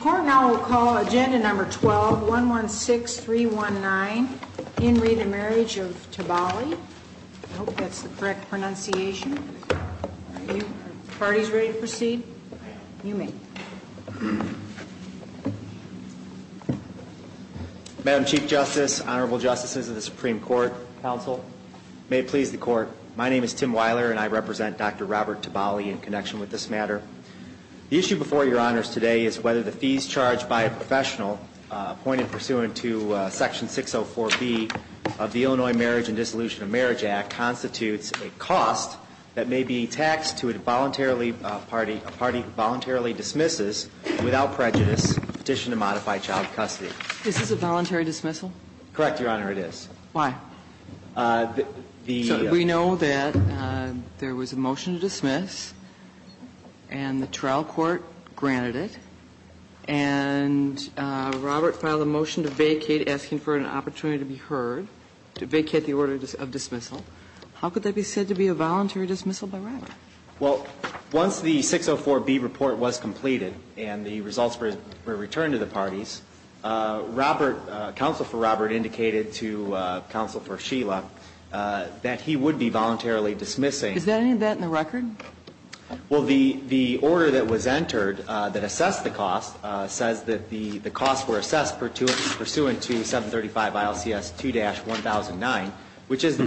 Court now will call Agenda Number 12-116319, In Read and Marriage of Tiballi. I hope that's the correct pronunciation. Are the parties ready to proceed? You may. Madam Chief Justice, Honorable Justices of the Supreme Court, Counsel, May it please the Court, My name is Tim Weiler and I represent Dr. Robert Tiballi in connection with this matter. The issue before Your Honors today is whether the fees charged by a professional appointed pursuant to Section 604B of the Illinois Marriage and Dissolution of Marriage Act constitutes a cost that may be taxed to a voluntarily party, a party who voluntarily dismisses without prejudice petition to modify child custody. Is this a voluntary dismissal? Correct, Your Honor, it is. Why? The We know that there was a motion to dismiss and the trial court granted it. And Robert filed a motion to vacate asking for an opportunity to be heard to vacate the order of dismissal. How could that be said to be a voluntary dismissal by Robert? Well, once the 604B report was completed and the results were returned to the parties, Robert, Counsel for Robert indicated to Counsel for Sheila that he would be voluntarily dismissing. Is there any of that in the record? Well, the order that was entered that assessed the cost says that the costs were assessed pursuant to 735 ILCS 2-1009, which is the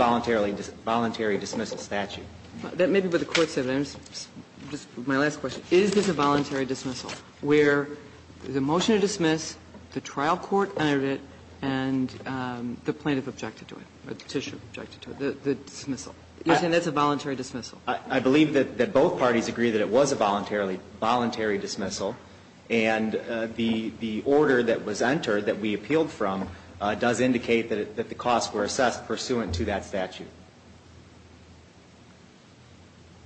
voluntary dismissal statute. That may be what the Court said. My last question. Is this a voluntary dismissal where the motion to dismiss, the trial court entered it, and the plaintiff objected to it, the petitioner objected to it, the dismissal? You're saying that's a voluntary dismissal? I believe that both parties agree that it was a voluntarily, voluntary dismissal. And the order that was entered that we appealed from does indicate that the costs were assessed pursuant to that statute.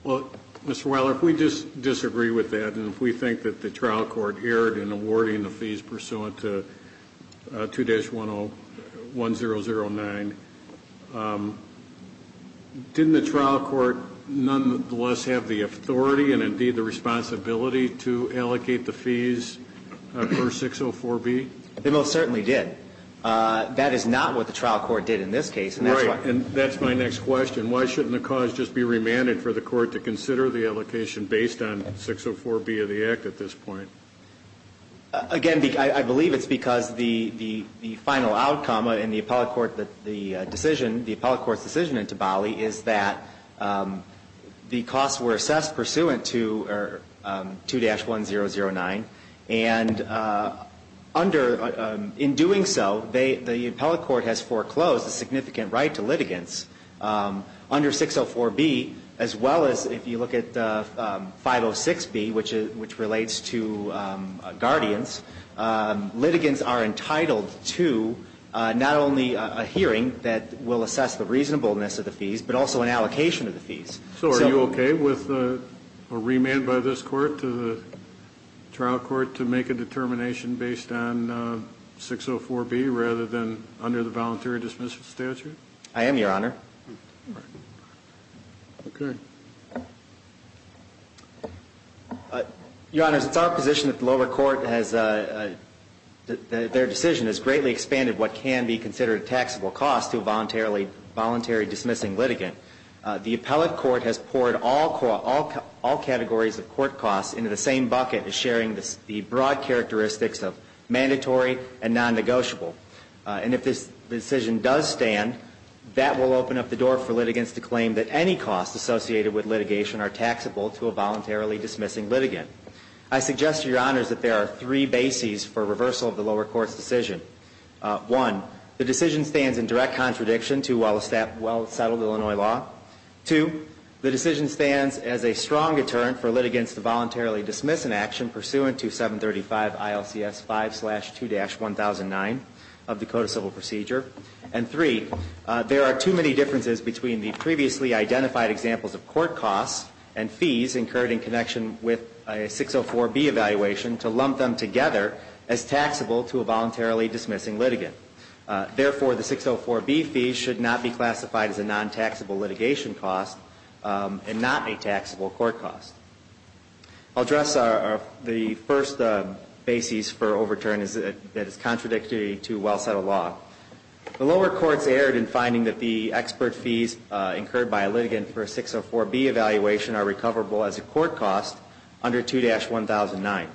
Well, Mr. Weiler, if we disagree with that and if we think that the trial court erred in awarding the fees pursuant to 2-1009, didn't the trial court nonetheless have the authority and, indeed, the responsibility to allocate the fees for 604B? They most certainly did. That is not what the trial court did in this case. Right. And that's my next question. Why shouldn't the cause just be remanded for the court to consider the allocation based on 604B of the Act at this point? Again, I believe it's because the final outcome in the appellate court, the decision, the appellate court's decision in Tabali is that the costs were assessed pursuant to 2-1009. And in doing so, the appellate court has foreclosed a significant right to litigants under 604B, as well as if you look at 506B, which relates to guardians. Litigants are entitled to not only a hearing that will assess the reasonableness of the fees, but also an allocation of the fees. So are you okay with a remand by this court to the trial court to make a determination based on 604B rather than under the voluntary dismissal statute? I am, Your Honor. All right. Okay. Your Honors, it's our position that the lower court has, their decision has greatly expanded what can be considered taxable costs to a voluntary dismissing litigant. The appellate court has poured all categories of court costs into the same bucket as sharing the broad characteristics of mandatory and non-negotiable. And if this decision does stand, that will open up the door for litigants to claim that any costs associated with litigation are taxable to a voluntarily dismissing litigant. I suggest to Your Honors that there are three bases for reversal of the lower court's decision. One, the decision stands in direct contradiction to well-settled Illinois law. Two, the decision stands as a strong deterrent for litigants to voluntarily dismiss an action pursuant to 735 ILCS 5-2-1009 of the Code of Civil Procedure. And three, there are too many differences between the previously identified examples of court costs and fees incurred in connection with a 604B evaluation to lump them together as taxable to a voluntarily dismissing litigant. Therefore, the 604B fees should not be classified as a non-taxable litigation cost and not a taxable court cost. I'll address the first basis for overturn that is contradictory to well-settled law. The lower courts erred in finding that the expert fees incurred by a litigant for a 604B evaluation are recoverable as a court cost under 2-1009.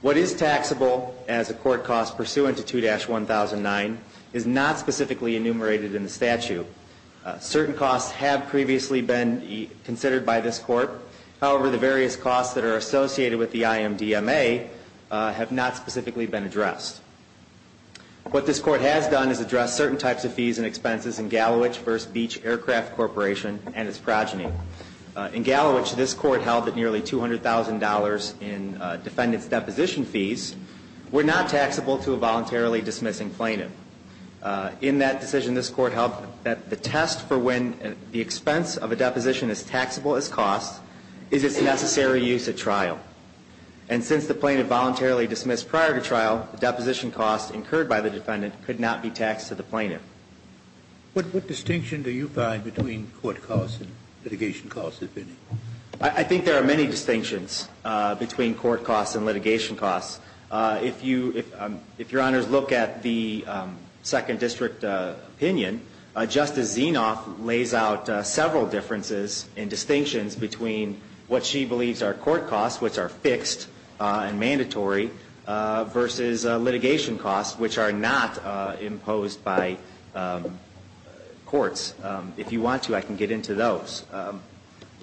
What is taxable as a court cost pursuant to 2-1009 is not specifically enumerated in the statute. Certain costs have previously been considered by this Court. However, the various costs that are associated with the IMDMA have not specifically been addressed. What this Court has done is address certain types of fees and expenses in Gallowich v. Beach Aircraft Corporation and its progeny. In Gallowich, this Court held that nearly $200,000 in defendant's deposition fees were not taxable to a voluntarily dismissing plaintiff. In that decision, this Court held that the test for when the expense of a deposition is taxable as cost is its necessary use at trial. And since the plaintiff voluntarily dismissed prior to trial, the deposition cost incurred by the defendant could not be taxed to the plaintiff. What distinction do you find between court costs and litigation costs? I think there are many distinctions between court costs and litigation costs. If Your Honors look at the Second District opinion, Justice Zinoff lays out several differences and distinctions between what she believes are court costs, which are fixed and mandatory, versus litigation costs, which are not imposed by courts. If you want to, I can get into those.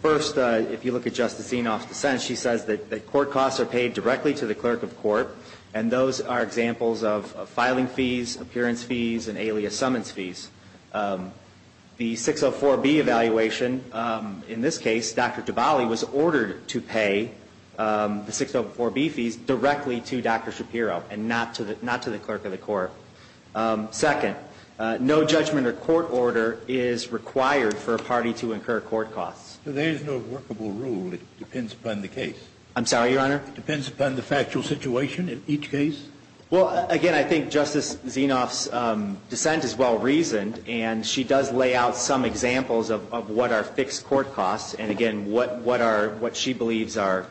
First, if you look at Justice Zinoff's dissent, she says that court costs are paid directly to the clerk of court, and those are examples of filing fees, appearance fees, and alias summons fees. The 604B evaluation, in this case, Dr. DiBali was ordered to pay the 604B fees directly to Dr. Shapiro and not to the clerk of the court. Second, no judgment or court order is required for a party to incur court costs. There is no workable rule. I'm sorry, Your Honor? It depends upon the factual situation in each case? Well, again, I think Justice Zinoff's dissent is well-reasoned, and she does lay out some examples of what are fixed court costs and, again, what she believes are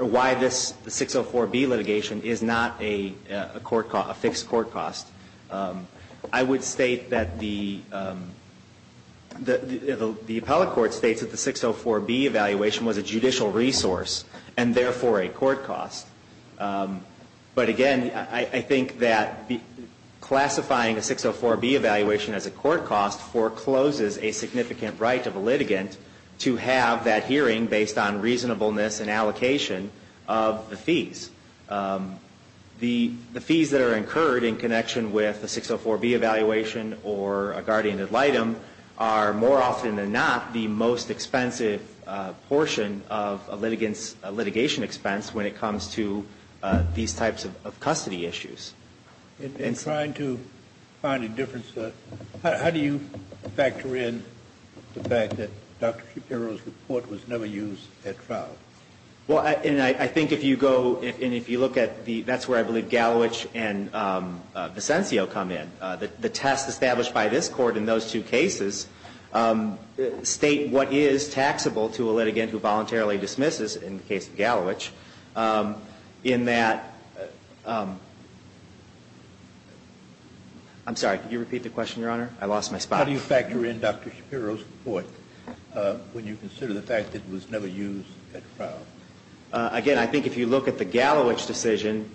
why this 604B litigation is not a fixed court cost. I would state that the appellate court states that the 604B evaluation was a judicial resource and, therefore, a court cost. But, again, I think that classifying a 604B evaluation as a court cost forecloses a significant right of a litigant to have that hearing based on reasonableness and allocation of the fees. The fees that are incurred in connection with the 604B evaluation or a guardian ad litem are, more often than not, the most expensive portion of a litigation expense when it comes to these types of custody issues. In trying to find a difference, how do you factor in the fact that Dr. Shapiro's report was never used at trial? Well, and I think if you go and if you look at the – that's where I believe cases state what is taxable to a litigant who voluntarily dismisses in the case of Gallowich in that – I'm sorry, could you repeat the question, Your Honor? I lost my spot. How do you factor in Dr. Shapiro's report when you consider the fact that it was never used at trial? Again, I think if you look at the Gallowich decision,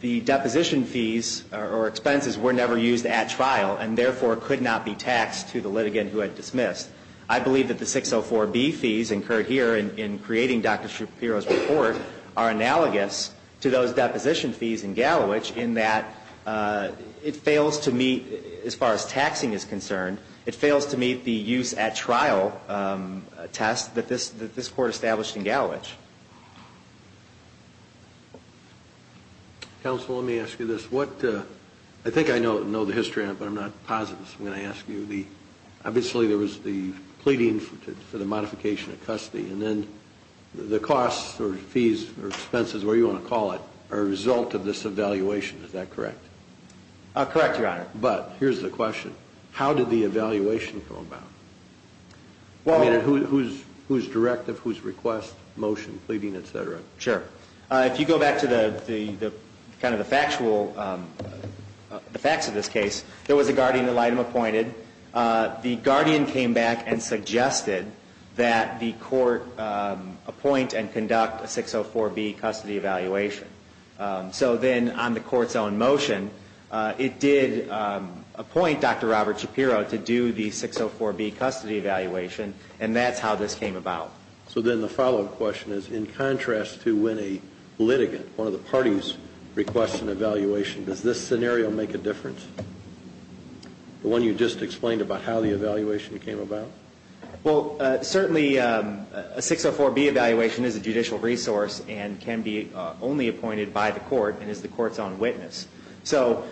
the deposition fees or expenses were never used at trial and therefore could not be taxed to the litigant who had dismissed. I believe that the 604B fees incurred here in creating Dr. Shapiro's report are analogous to those deposition fees in Gallowich in that it fails to meet, as far as taxing is concerned, it fails to meet the use at trial test that this court established in Gallowich. Counsel, let me ask you this. What – I think I know the history on it, but I'm not positive, so I'm going to ask you. Obviously, there was the pleading for the modification of custody and then the costs or fees or expenses, whatever you want to call it, are a result of this evaluation. Is that correct? Correct, Your Honor. But here's the question. How did the evaluation come about? I mean, whose directive, whose request, motion, pleading, et cetera? Sure. If you go back to the kind of the factual – the facts of this case, there was a guardian that Lightham appointed. The guardian came back and suggested that the court appoint and conduct a 604B custody evaluation. So then on the court's own motion, it did appoint Dr. Robert Shapiro to do the 604B custody evaluation, and that's how this came about. So then the follow-up question is, in contrast to when a litigant, one of the parties, requests an evaluation, does this scenario make a difference? The one you just explained about how the evaluation came about? Well, certainly a 604B evaluation is a judicial resource and can be only appointed by the court and is the court's own witness. So,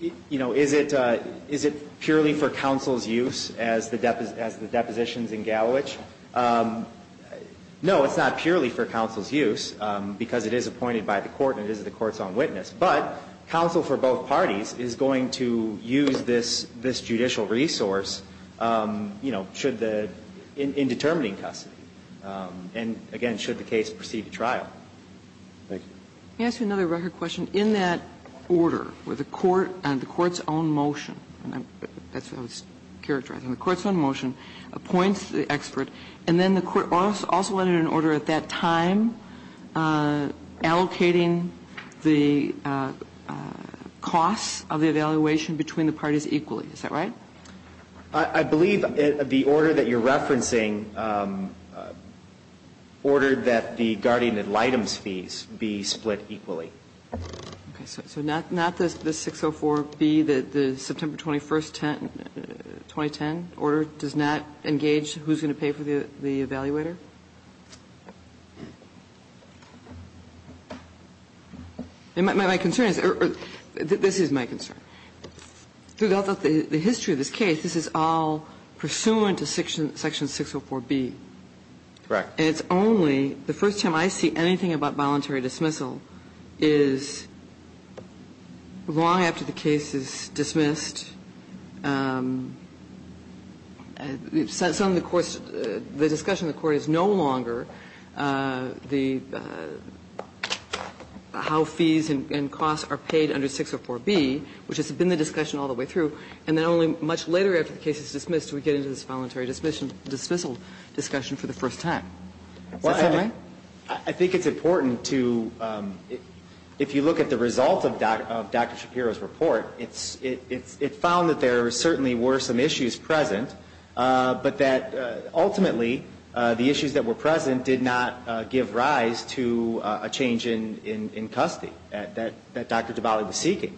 you know, is it purely for counsel's use as the depositions in Gallowich? No, it's not purely for counsel's use because it is appointed by the court and it is the court's own witness. But counsel for both parties is going to use this judicial resource, you know, should the – in determining custody. And again, should the case proceed to trial. Thank you. Let me ask you another record question. In that order, where the court, on the court's own motion, that's what I was characterizing, the court's own motion appoints the expert, and then the court also entered an order at that time allocating the costs of the evaluation between the parties equally. Is that right? I believe the order that you're referencing ordered that the guardian ad litem's fees be split equally. Okay. So not the 604B, the September 21st, 2010 order, does not engage who's going to pay for the evaluator? My concern is – this is my concern. Throughout the history of this case, this is all pursuant to section 604B. Correct. And it's only the first time I see anything about voluntary dismissal is long after the case is dismissed. And so the court's – the discussion in the court is no longer the – how fees and costs are paid under 604B, which has been the discussion all the way through, and then only much later after the case is dismissed do we get into this voluntary dismissal discussion for the first time. Is that right? I think it's important to – if you look at the result of Dr. Shapiro's report, it found that there certainly were some issues present, but that ultimately the issues that were present did not give rise to a change in custody that Dr. DiBali was seeking.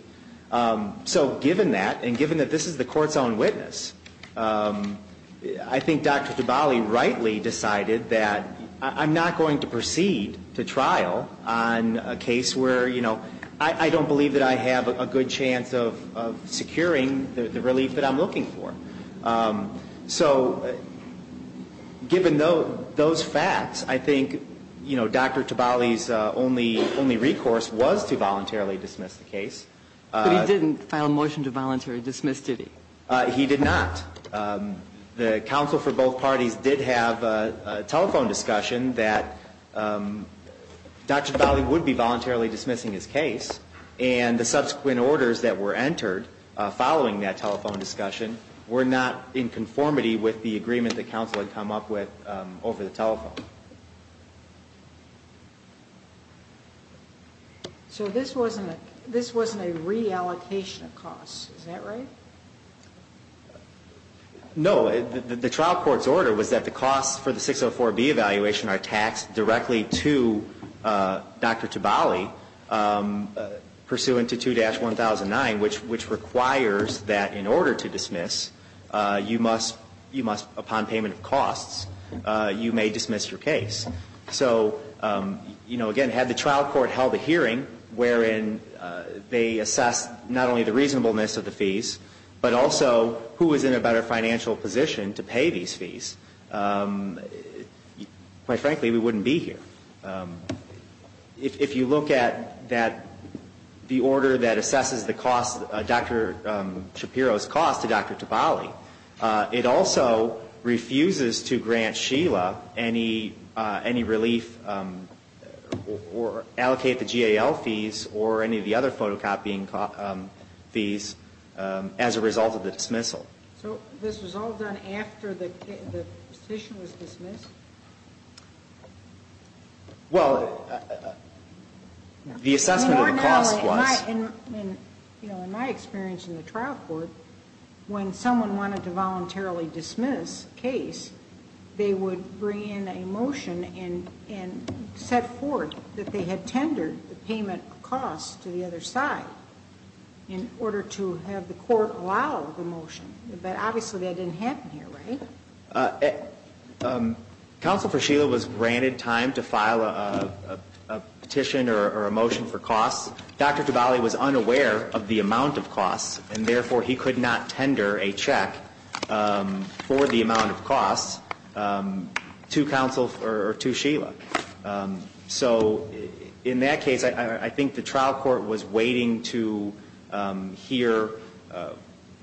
So given that, and given that this is the court's own witness, I think Dr. DiBali rightly decided that I'm not going to proceed to trial on a case where, you know, I don't believe that I have a good chance of securing the relief that I'm looking for. So given those facts, I think, you know, Dr. DiBali's only recourse was to voluntarily dismiss the case. But he didn't file a motion to voluntarily dismiss, did he? He did not. The counsel for both parties did have a telephone discussion that Dr. DiBali would be voluntarily dismissing his case, and the subsequent orders that were entered following that telephone discussion were not in conformity with the agreement that counsel had come up with over the telephone. So this wasn't a reallocation of costs, is that right? No. The trial court's order was that the costs for the 604B evaluation are taxed directly to Dr. DiBali, pursuant to 2-1009, which requires that in order to dismiss, you must, upon payment of costs, you may dismiss your case. So, you know, again, had the trial court held a hearing wherein they assessed not only the reasonableness of the fees, but also who was in a better financial position to pay these fees, quite frankly, we wouldn't be here. If you look at that, the order that assesses the cost, Dr. Shapiro's cost to Dr. DiBali, it also refuses to grant Sheila any relief or allocate the GAL fees or any of the other photocopying fees as a result of the dismissal. So this was all done after the petition was dismissed? Well, the assessment of the cost was. In my experience in the trial court, when someone wanted to voluntarily dismiss a case, they would bring in a motion and set forth that they had tendered the payment of costs to the other side in order to have the court allow the motion. But obviously that didn't happen here, right? Counsel for Sheila was granted time to file a petition or a motion for costs. Dr. DiBali was unaware of the amount of costs, and therefore he could not tender a check for the amount of costs to Sheila. So in that case, I think the trial court was waiting to hear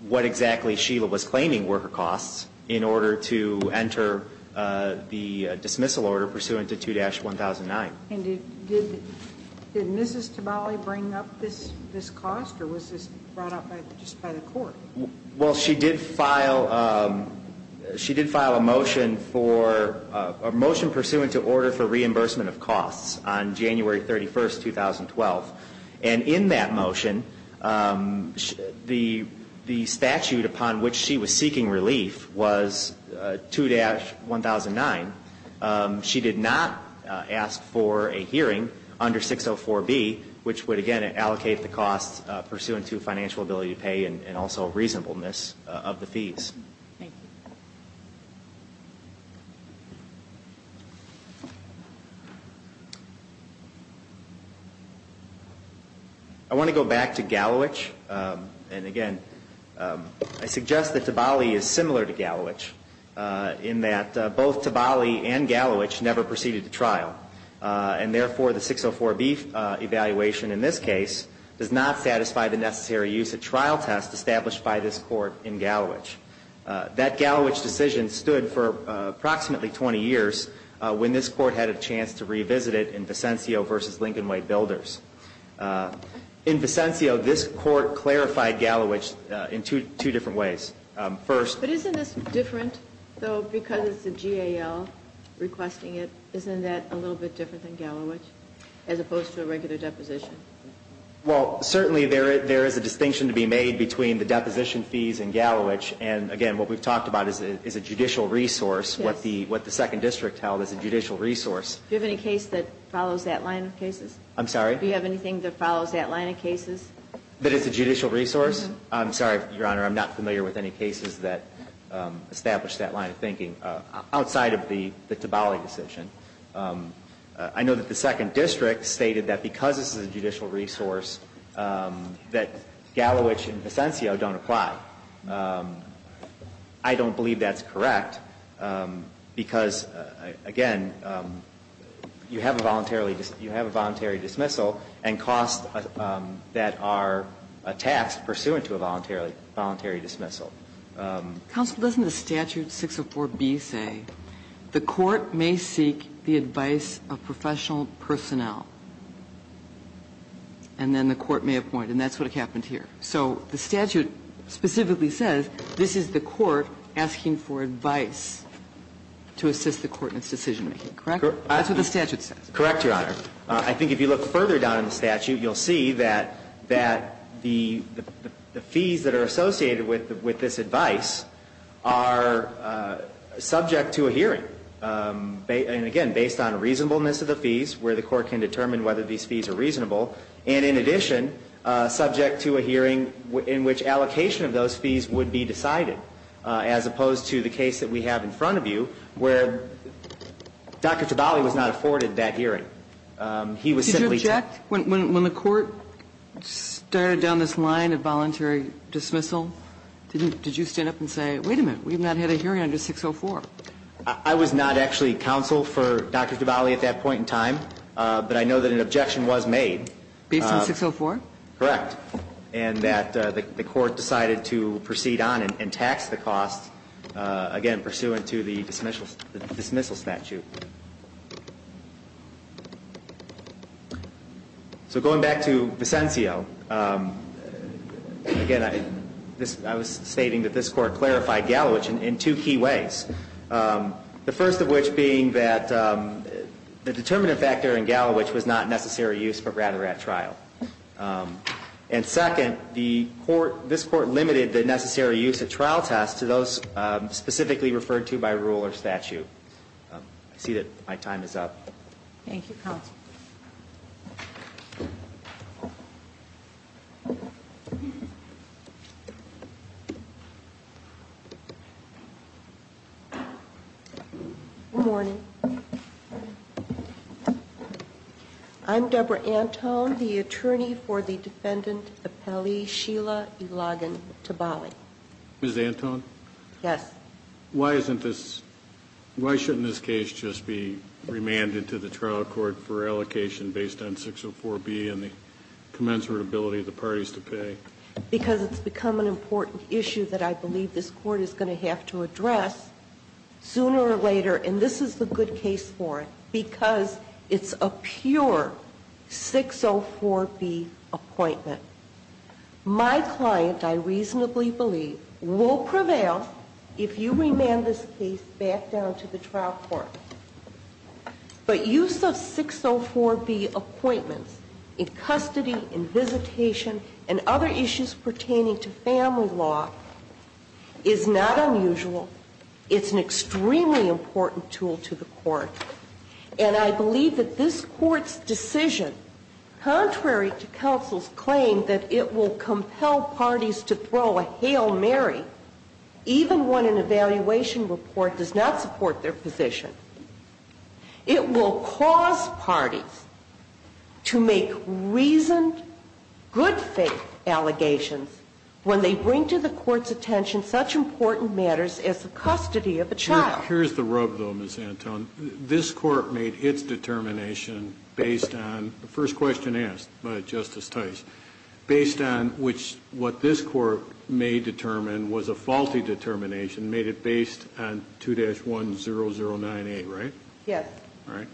what exactly Sheila was claiming were her costs in order to enter the dismissal order pursuant to 2-1009. And did Mrs. DiBali bring up this cost, or was this brought up just by the court? Well, she did file a motion for a motion pursuant to order for reimbursement of costs on January 31, 2012. And in that motion, the statute upon which she was seeking relief was 2-1009. She did not ask for a hearing under 604B, which would, again, allocate the costs pursuant to financial ability to pay and also reasonableness of the fees. I want to go back to Gallowich, and again, I suggest that DiBali is similar to Gallowich in that both DiBali and Gallowich never proceeded to trial. And therefore, the 604B evaluation in this case does not satisfy the necessary use of trial test established by this court in Gallowich. That Gallowich decision stood for approximately 20 years when this court had a chance to revisit it in Vicencio v. Lincoln Way Builders. In Vicencio, this court clarified Gallowich in two different ways. But isn't this different, though, because it's a GAL requesting it? Isn't that a little bit different than Gallowich as opposed to a regular deposition? Well, certainly there is a distinction to be made between the deposition fees in Gallowich and, again, what we've talked about is a judicial resource, what the Second District held as a judicial resource. Do you have any case that follows that line of cases? I'm sorry? Do you have anything that follows that line of cases? That is a judicial resource? I'm sorry, Your Honor, I'm not familiar with any cases that establish that line of thinking outside of the Tabali decision. I know that the Second District stated that because this is a judicial resource that Gallowich and Vicencio don't apply. I don't believe that's correct because, again, you have a voluntary dismissal and costs that are taxed pursuant to a voluntary dismissal. Counsel, doesn't the statute 604B say the court may seek the advice of professional personnel, and then the court may appoint? And that's what happened here. So the statute specifically says this is the court asking for advice to assist the court in its decision-making, correct? That's what the statute says. Correct, Your Honor. I think if you look further down in the statute, you'll see that the fees that are associated with this advice are subject to a hearing, and again, based on reasonableness of the fees where the court can determine whether these fees are reasonable, and in addition, subject to a hearing in which allocation of those fees would be decided, as opposed to the case that we have in front of you where Dr. Tabali was not afforded that hearing. He was simply took. Did you object when the court started down this line of voluntary dismissal? Did you stand up and say, wait a minute, we've not had a hearing under 604? I was not actually counsel for Dr. Tabali at that point in time, but I know that an objection was made. Based on 604? Correct. And that the court decided to proceed on and tax the costs, again, pursuant to the dismissal statute. So going back to Vicencio, again, I was stating that this court clarified Gallowich in two key ways. The first of which being that the determinant factor in Gallowich was not necessary use, but rather at trial. And second, this court limited the necessary use at trial test to those specifically referred to by rule or statute. I see that my time is up. Thank you, counsel. Good morning. I'm Debra Anton, the attorney for the defendant appellee Sheila Ilagan Tabali. Ms. Anton? Yes. Why shouldn't this case just be remanded to the trial court for allocation based on 604B and the commensurate ability of the parties to pay? Because it's become an important issue that I believe this court is going to have to address sooner or later. And this is the good case for it because it's a pure 604B appointment. My client, I reasonably believe, will prevail if you remand this case back down to the trial court. But use of 604B appointments in custody, in visitation, and other issues pertaining to family law is not unusual. And I believe that this Court's decision, contrary to counsel's claim that it will compel parties to throw a Hail Mary, even when an evaluation report does not support their position, it will cause parties to make reasoned, good faith allegations when they bring to the Court's attention such important matters as the custody of a child. Well, here's the rub, though, Ms. Anton. This Court made its determination based on the first question asked by Justice Tice, based on which what this Court may determine was a faulty determination, made it based on 2-10098, right? Yes. Right.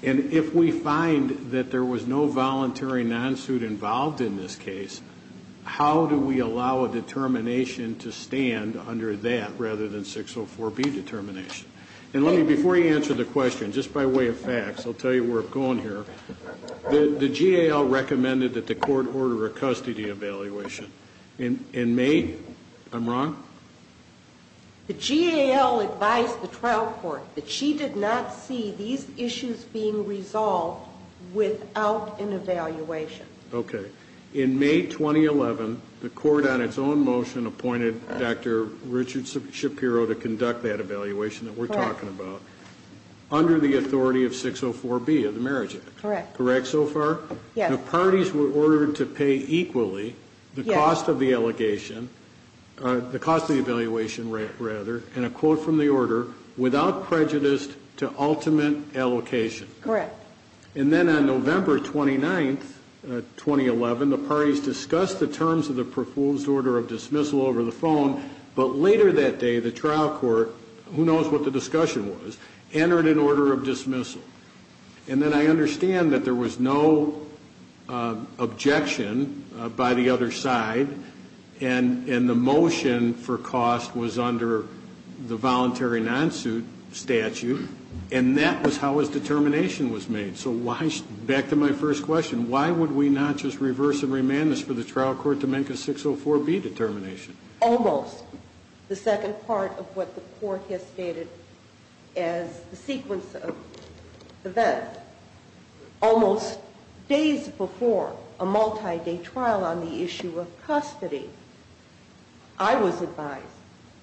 And if we find that there was no voluntary non-suit involved in this case, how do we allow a determination to stand under that rather than 604B determination? And let me, before you answer the question, just by way of facts, I'll tell you where I'm going here. The GAL recommended that the Court order a custody evaluation. In May? I'm wrong? The GAL advised the trial court that she did not see these issues being resolved without an evaluation. Okay. In May 2011, the Court on its own motion appointed Dr. Richard Shapiro to conduct that evaluation that we're talking about under the authority of 604B of the Marriage Act. Correct. Correct so far? Yes. The parties were ordered to pay equally the cost of the allegation, the cost of the evaluation, rather, and a quote from the order, without prejudice to ultimate allocation. Correct. And then on November 29, 2011, the parties discussed the terms of the proposed order of dismissal over the phone, but later that day, the trial court, who knows what the discussion was, entered an order of dismissal. And then I understand that there was no objection by the other side, and the motion for cost was under the voluntary non-suit statute, and that was how his determination was made. So back to my first question, why would we not just reverse and remand this for the trial court to make a 604B determination? Almost. The second part of what the court has stated as the sequence of events. Almost days before a multi-day trial on the issue of custody, I was advised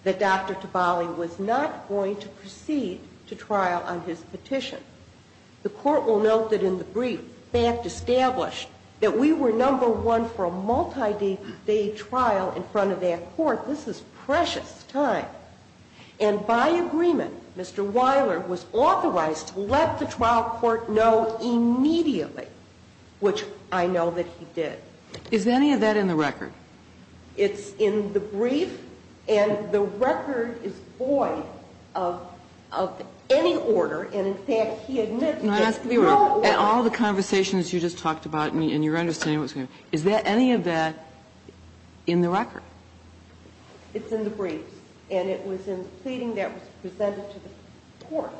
that Dr. Tabali was not going to proceed to trial on his petition. The court will note that in the brief, they have established that we were number one for a multi-day trial in front of that court. This is precious time. And by agreement, Mr. Weiler was authorized to let the trial court know immediately, which I know that he did. Is any of that in the record? It's in the brief. And the record is void of any order. And in fact, he admits there's no order. All the conversations you just talked about, and you're understanding what's going on. Is there any of that in the record? It's in the brief. And it was in the pleading that was presented to the court.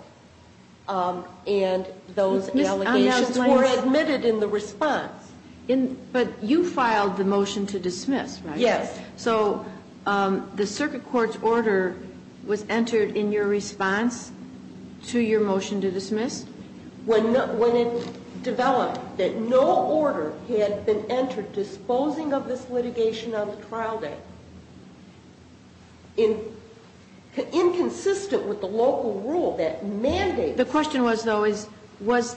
And those allegations were admitted in the response. But you filed the motion to dismiss, right? Yes. So the circuit court's order was entered in your response to your motion to dismiss? When it developed that no order had been entered disposing of this litigation on the trial day, inconsistent with the local rule that mandated it. The question was, though, was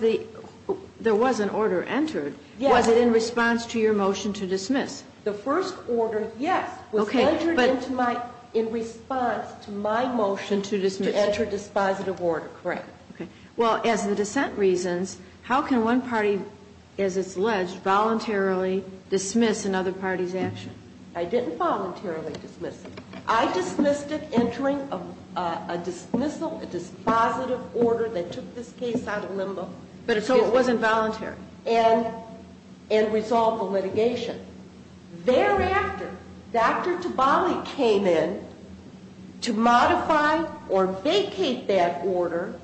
there was an order entered. Yes. Was it in response to your motion to dismiss? The first order, yes, was entered into my, in response to my motion to enter dispositive order, correct. Okay. Well, as the dissent reasons, how can one party, as it's alleged, voluntarily dismiss another party's action? I didn't voluntarily dismiss it. I dismissed it entering a dismissal, a dispositive order that took this case out of limbo. But so it wasn't voluntary. And resolved the litigation. Thereafter, Dr. Tabali came in to modify or vacate that order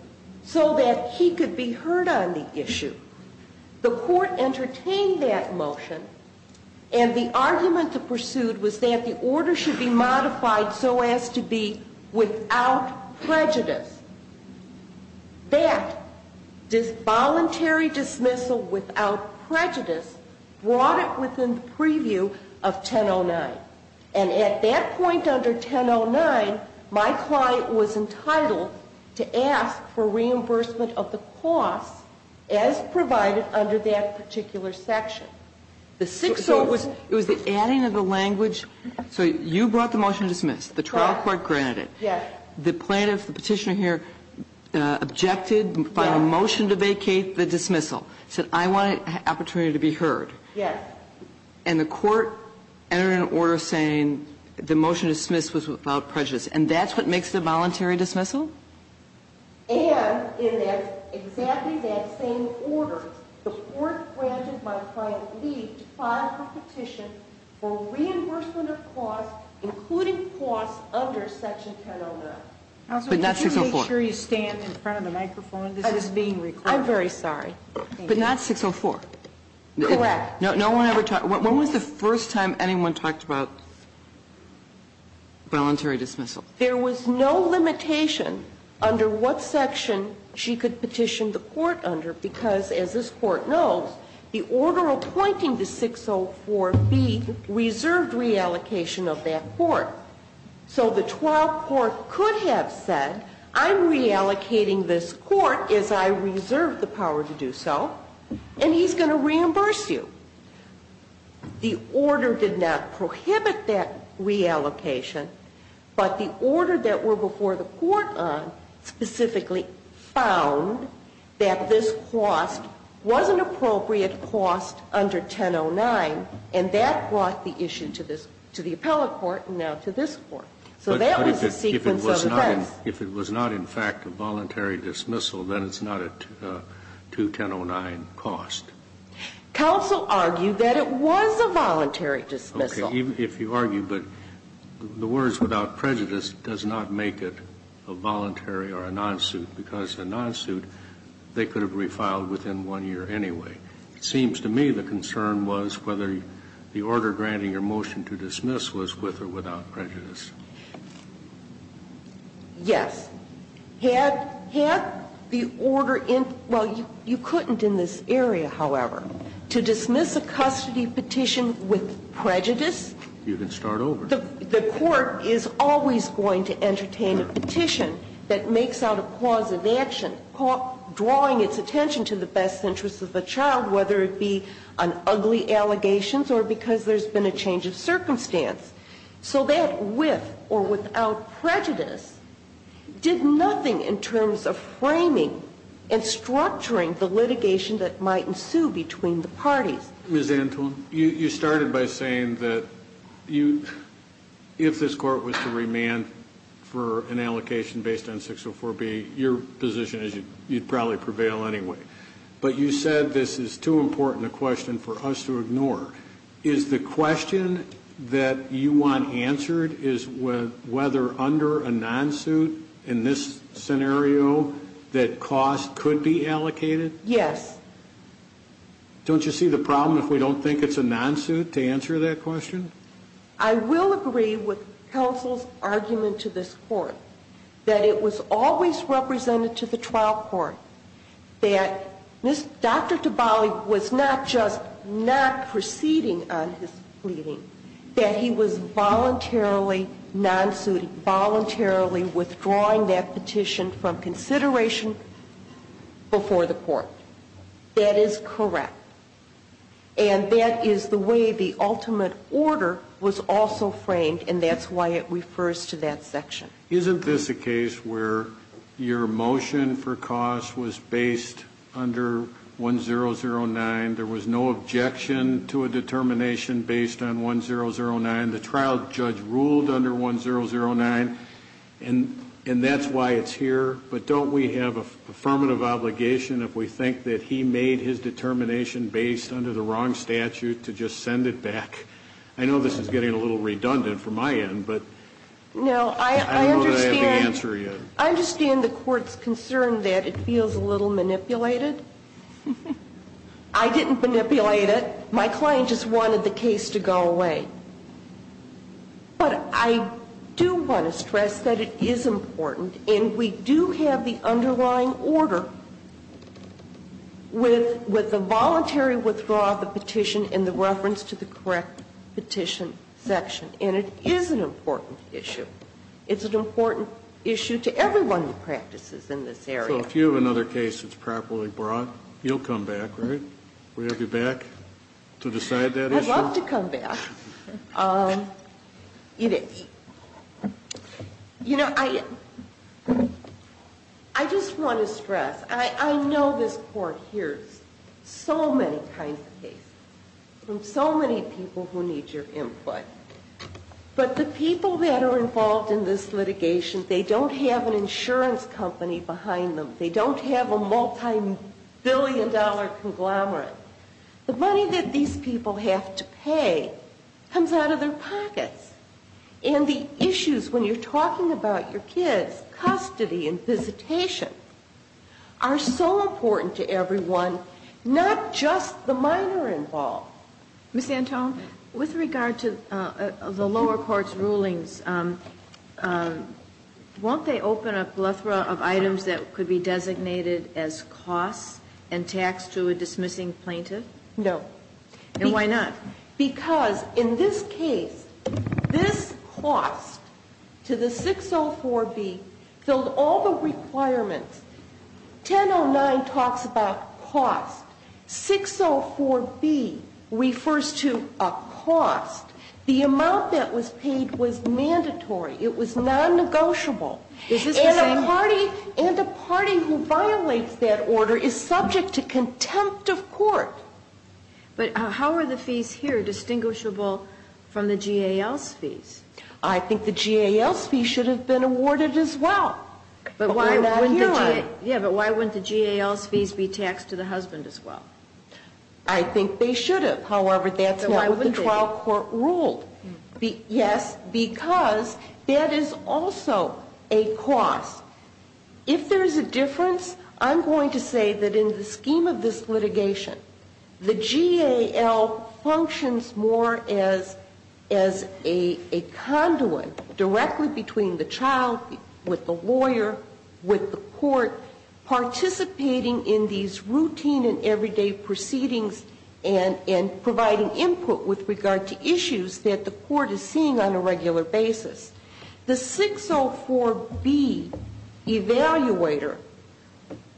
so that he could be heard on the issue. The court entertained that motion. And the argument that pursued was that the order should be modified so as to be without prejudice. That, this voluntary dismissal without prejudice, brought it within the preview of 1009. And at that point under 1009, my client was entitled to ask for reimbursement of the cost as provided under that particular section. The 604. It was the adding of the language. So you brought the motion to dismiss. The trial court granted it. Yes. The plaintiff, the Petitioner here, objected by the motion to vacate the dismissal, said, I want an opportunity to be heard. Yes. And the court entered an order saying the motion to dismiss was without prejudice. And that's what makes it a voluntary dismissal? And in exactly that same order, the court granted my client leave to file the petition for reimbursement of costs, including costs under section 1009. But not 604. Counsel, could you make sure you stand in front of the microphone? This is being recorded. I'm very sorry. But not 604. Correct. When was the first time anyone talked about voluntary dismissal? There was no limitation under what section she could petition the court under, because as this Court knows, the order appointing the 604B reserved reallocation of that court. So the trial court could have said, I'm reallocating this court as I reserved the power to do so, and he's going to reimburse you. The order did not prohibit that reallocation, but the order that were before the court on specifically found that this cost was an appropriate cost under 1009, and that brought the issue to the appellate court and now to this Court. So that was a sequence of events. But if it was not in fact a voluntary dismissal, then it's not a 2109 cost. Counsel argued that it was a voluntary dismissal. Okay. If you argue, but the words without prejudice does not make it a voluntary or a non-suit, because a non-suit, they could have refiled within one year anyway. It seems to me the concern was whether the order granting your motion to dismiss was with or without prejudice. Yes. Had the order in, well, you couldn't in this area, however, to dismiss a custody petition with prejudice. You can start over. The court is always going to entertain a petition that makes out a cause of action drawing its attention to the best interests of the child, whether it be on ugly allegations or because there's been a change of circumstance. So that with or without prejudice did nothing in terms of framing and structuring the litigation that might ensue between the parties. Ms. Antwon, you started by saying that if this court was to remand for an allocation based on 604B, your position is you'd probably prevail anyway. But you said this is too important a question for us to ignore. Is the question that you want answered is whether under a non-suit in this scenario that cost could be allocated? Yes. Don't you see the problem if we don't think it's a non-suit to answer that question? I will agree with counsel's argument to this court that it was always represented to the trial court that Dr. Dabali was not just not proceeding on his pleading, that he was voluntarily non-suiting, voluntarily withdrawing that petition from consideration before the court. That is correct. And that is the way the ultimate order was also framed, and that's why it refers to that section. Isn't this a case where your motion for cost was based under 1009? There was no objection to a determination based on 1009. The trial judge ruled under 1009, and that's why it's here. But don't we have an affirmative obligation if we think that he made his determination based under the wrong statute to just send it back? I know this is getting a little redundant from my end, but... I don't know that I have the answer yet. I understand the court's concern that it feels a little manipulated. I didn't manipulate it. My client just wanted the case to go away. But I do want to stress that it is important, and we do have the underlying order with the voluntary withdrawal of the petition in the reference to the correct petition section. And it is an important issue. It's an important issue to everyone who practices in this area. So if you have another case that's properly brought, you'll come back, right? We'll have you back to decide that issue? I'd love to come back. You know, I just want to stress, I know this court hears so many kinds of cases from so many people who need your input. But the people that are involved in this litigation, they don't have an insurance company behind them. They don't have a multibillion-dollar conglomerate. The money that these people have to pay comes out of their pockets. And the issues when you're talking about your kids, custody and visitation, are so Ms. Antone, with regard to the lower court's rulings, won't they open up a plethora of items that could be designated as costs and tax to a dismissing plaintiff? No. And why not? Because in this case, this cost to the 604B filled all the requirements. 1009 talks about cost. 604B refers to a cost. The amount that was paid was mandatory. It was non-negotiable. And a party who violates that order is subject to contempt of court. But how are the fees here distinguishable from the GAL's fees? I think the GAL's fees should have been awarded as well. But why wouldn't the GAL's fees be taxed to the husband as well? I think they should have. However, that's not what the trial court ruled. Yes, because that is also a cost. If there's a difference, I'm going to say that in the scheme of this litigation, the GAL functions more as a conduit directly between the child, with the lawyer, with the court, participating in these routine and everyday proceedings and providing input with regard to issues that the court is seeing on a regular basis. The 604B evaluator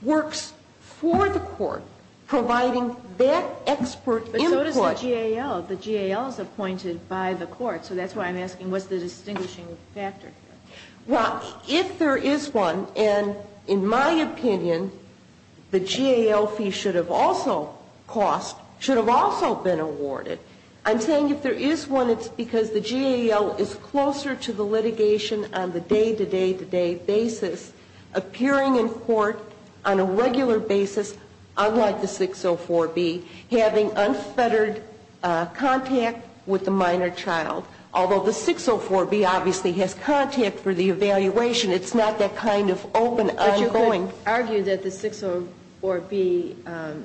works for the court, providing that expert input. But so does the GAL. The GAL is appointed by the court. So that's why I'm asking what's the distinguishing factor here. Well, if there is one, and in my opinion, the GAL fee should have also cost, should have also been awarded. I'm saying if there is one, it's because the GAL is closer to the litigation on the day-to-day-to-day basis, appearing in court on a regular basis, unlike the 604B, having unfettered contact with the minor child. Although the 604B obviously has contact for the evaluation. It's not that kind of open, ongoing. I would argue that the 604B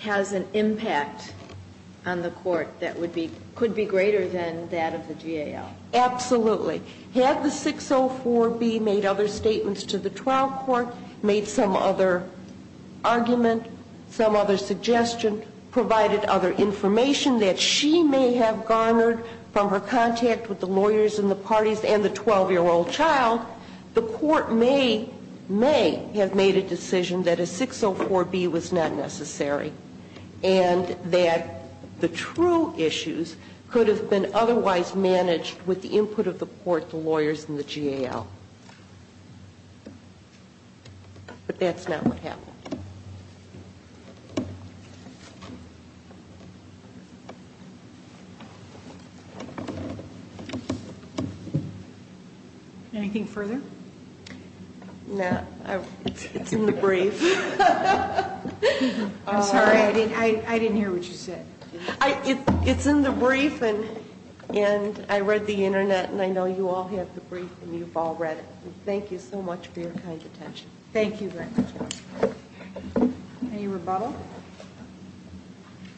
has an impact on the court that would be, could be greater than that of the GAL. Absolutely. Had the 604B made other statements to the trial court, made some other argument, some other suggestion, provided other information that she may have garnered from her contact with the lawyers and the parties and the 12-year-old child, the court may, may have made a decision that a 604B was not necessary and that the true issues could have been otherwise managed with the input of the court, the lawyers, and the GAL. But that's not what happened. Anything further? No. It's in the brief. I'm sorry. I didn't hear what you said. It's in the brief, and I read the Internet, and I know you all have the brief, and you've all read it. Thank you so much for your kind attention. Thank you very much. Any rebuttal?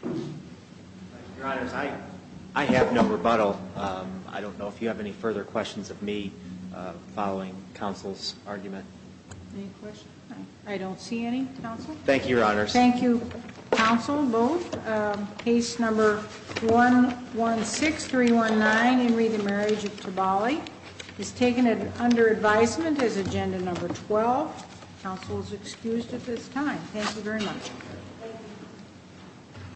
Your Honors, I have no rebuttal. I don't know if you have any further questions of me following counsel's argument. Any questions? I don't see any, counsel. Thank you, Your Honors. Thank you, counsel, both. Case number 116319, Emory v. The Marriage of Tobali, is taken under advisement as agenda number 12. Counsel is excused at this time. Thank you very much.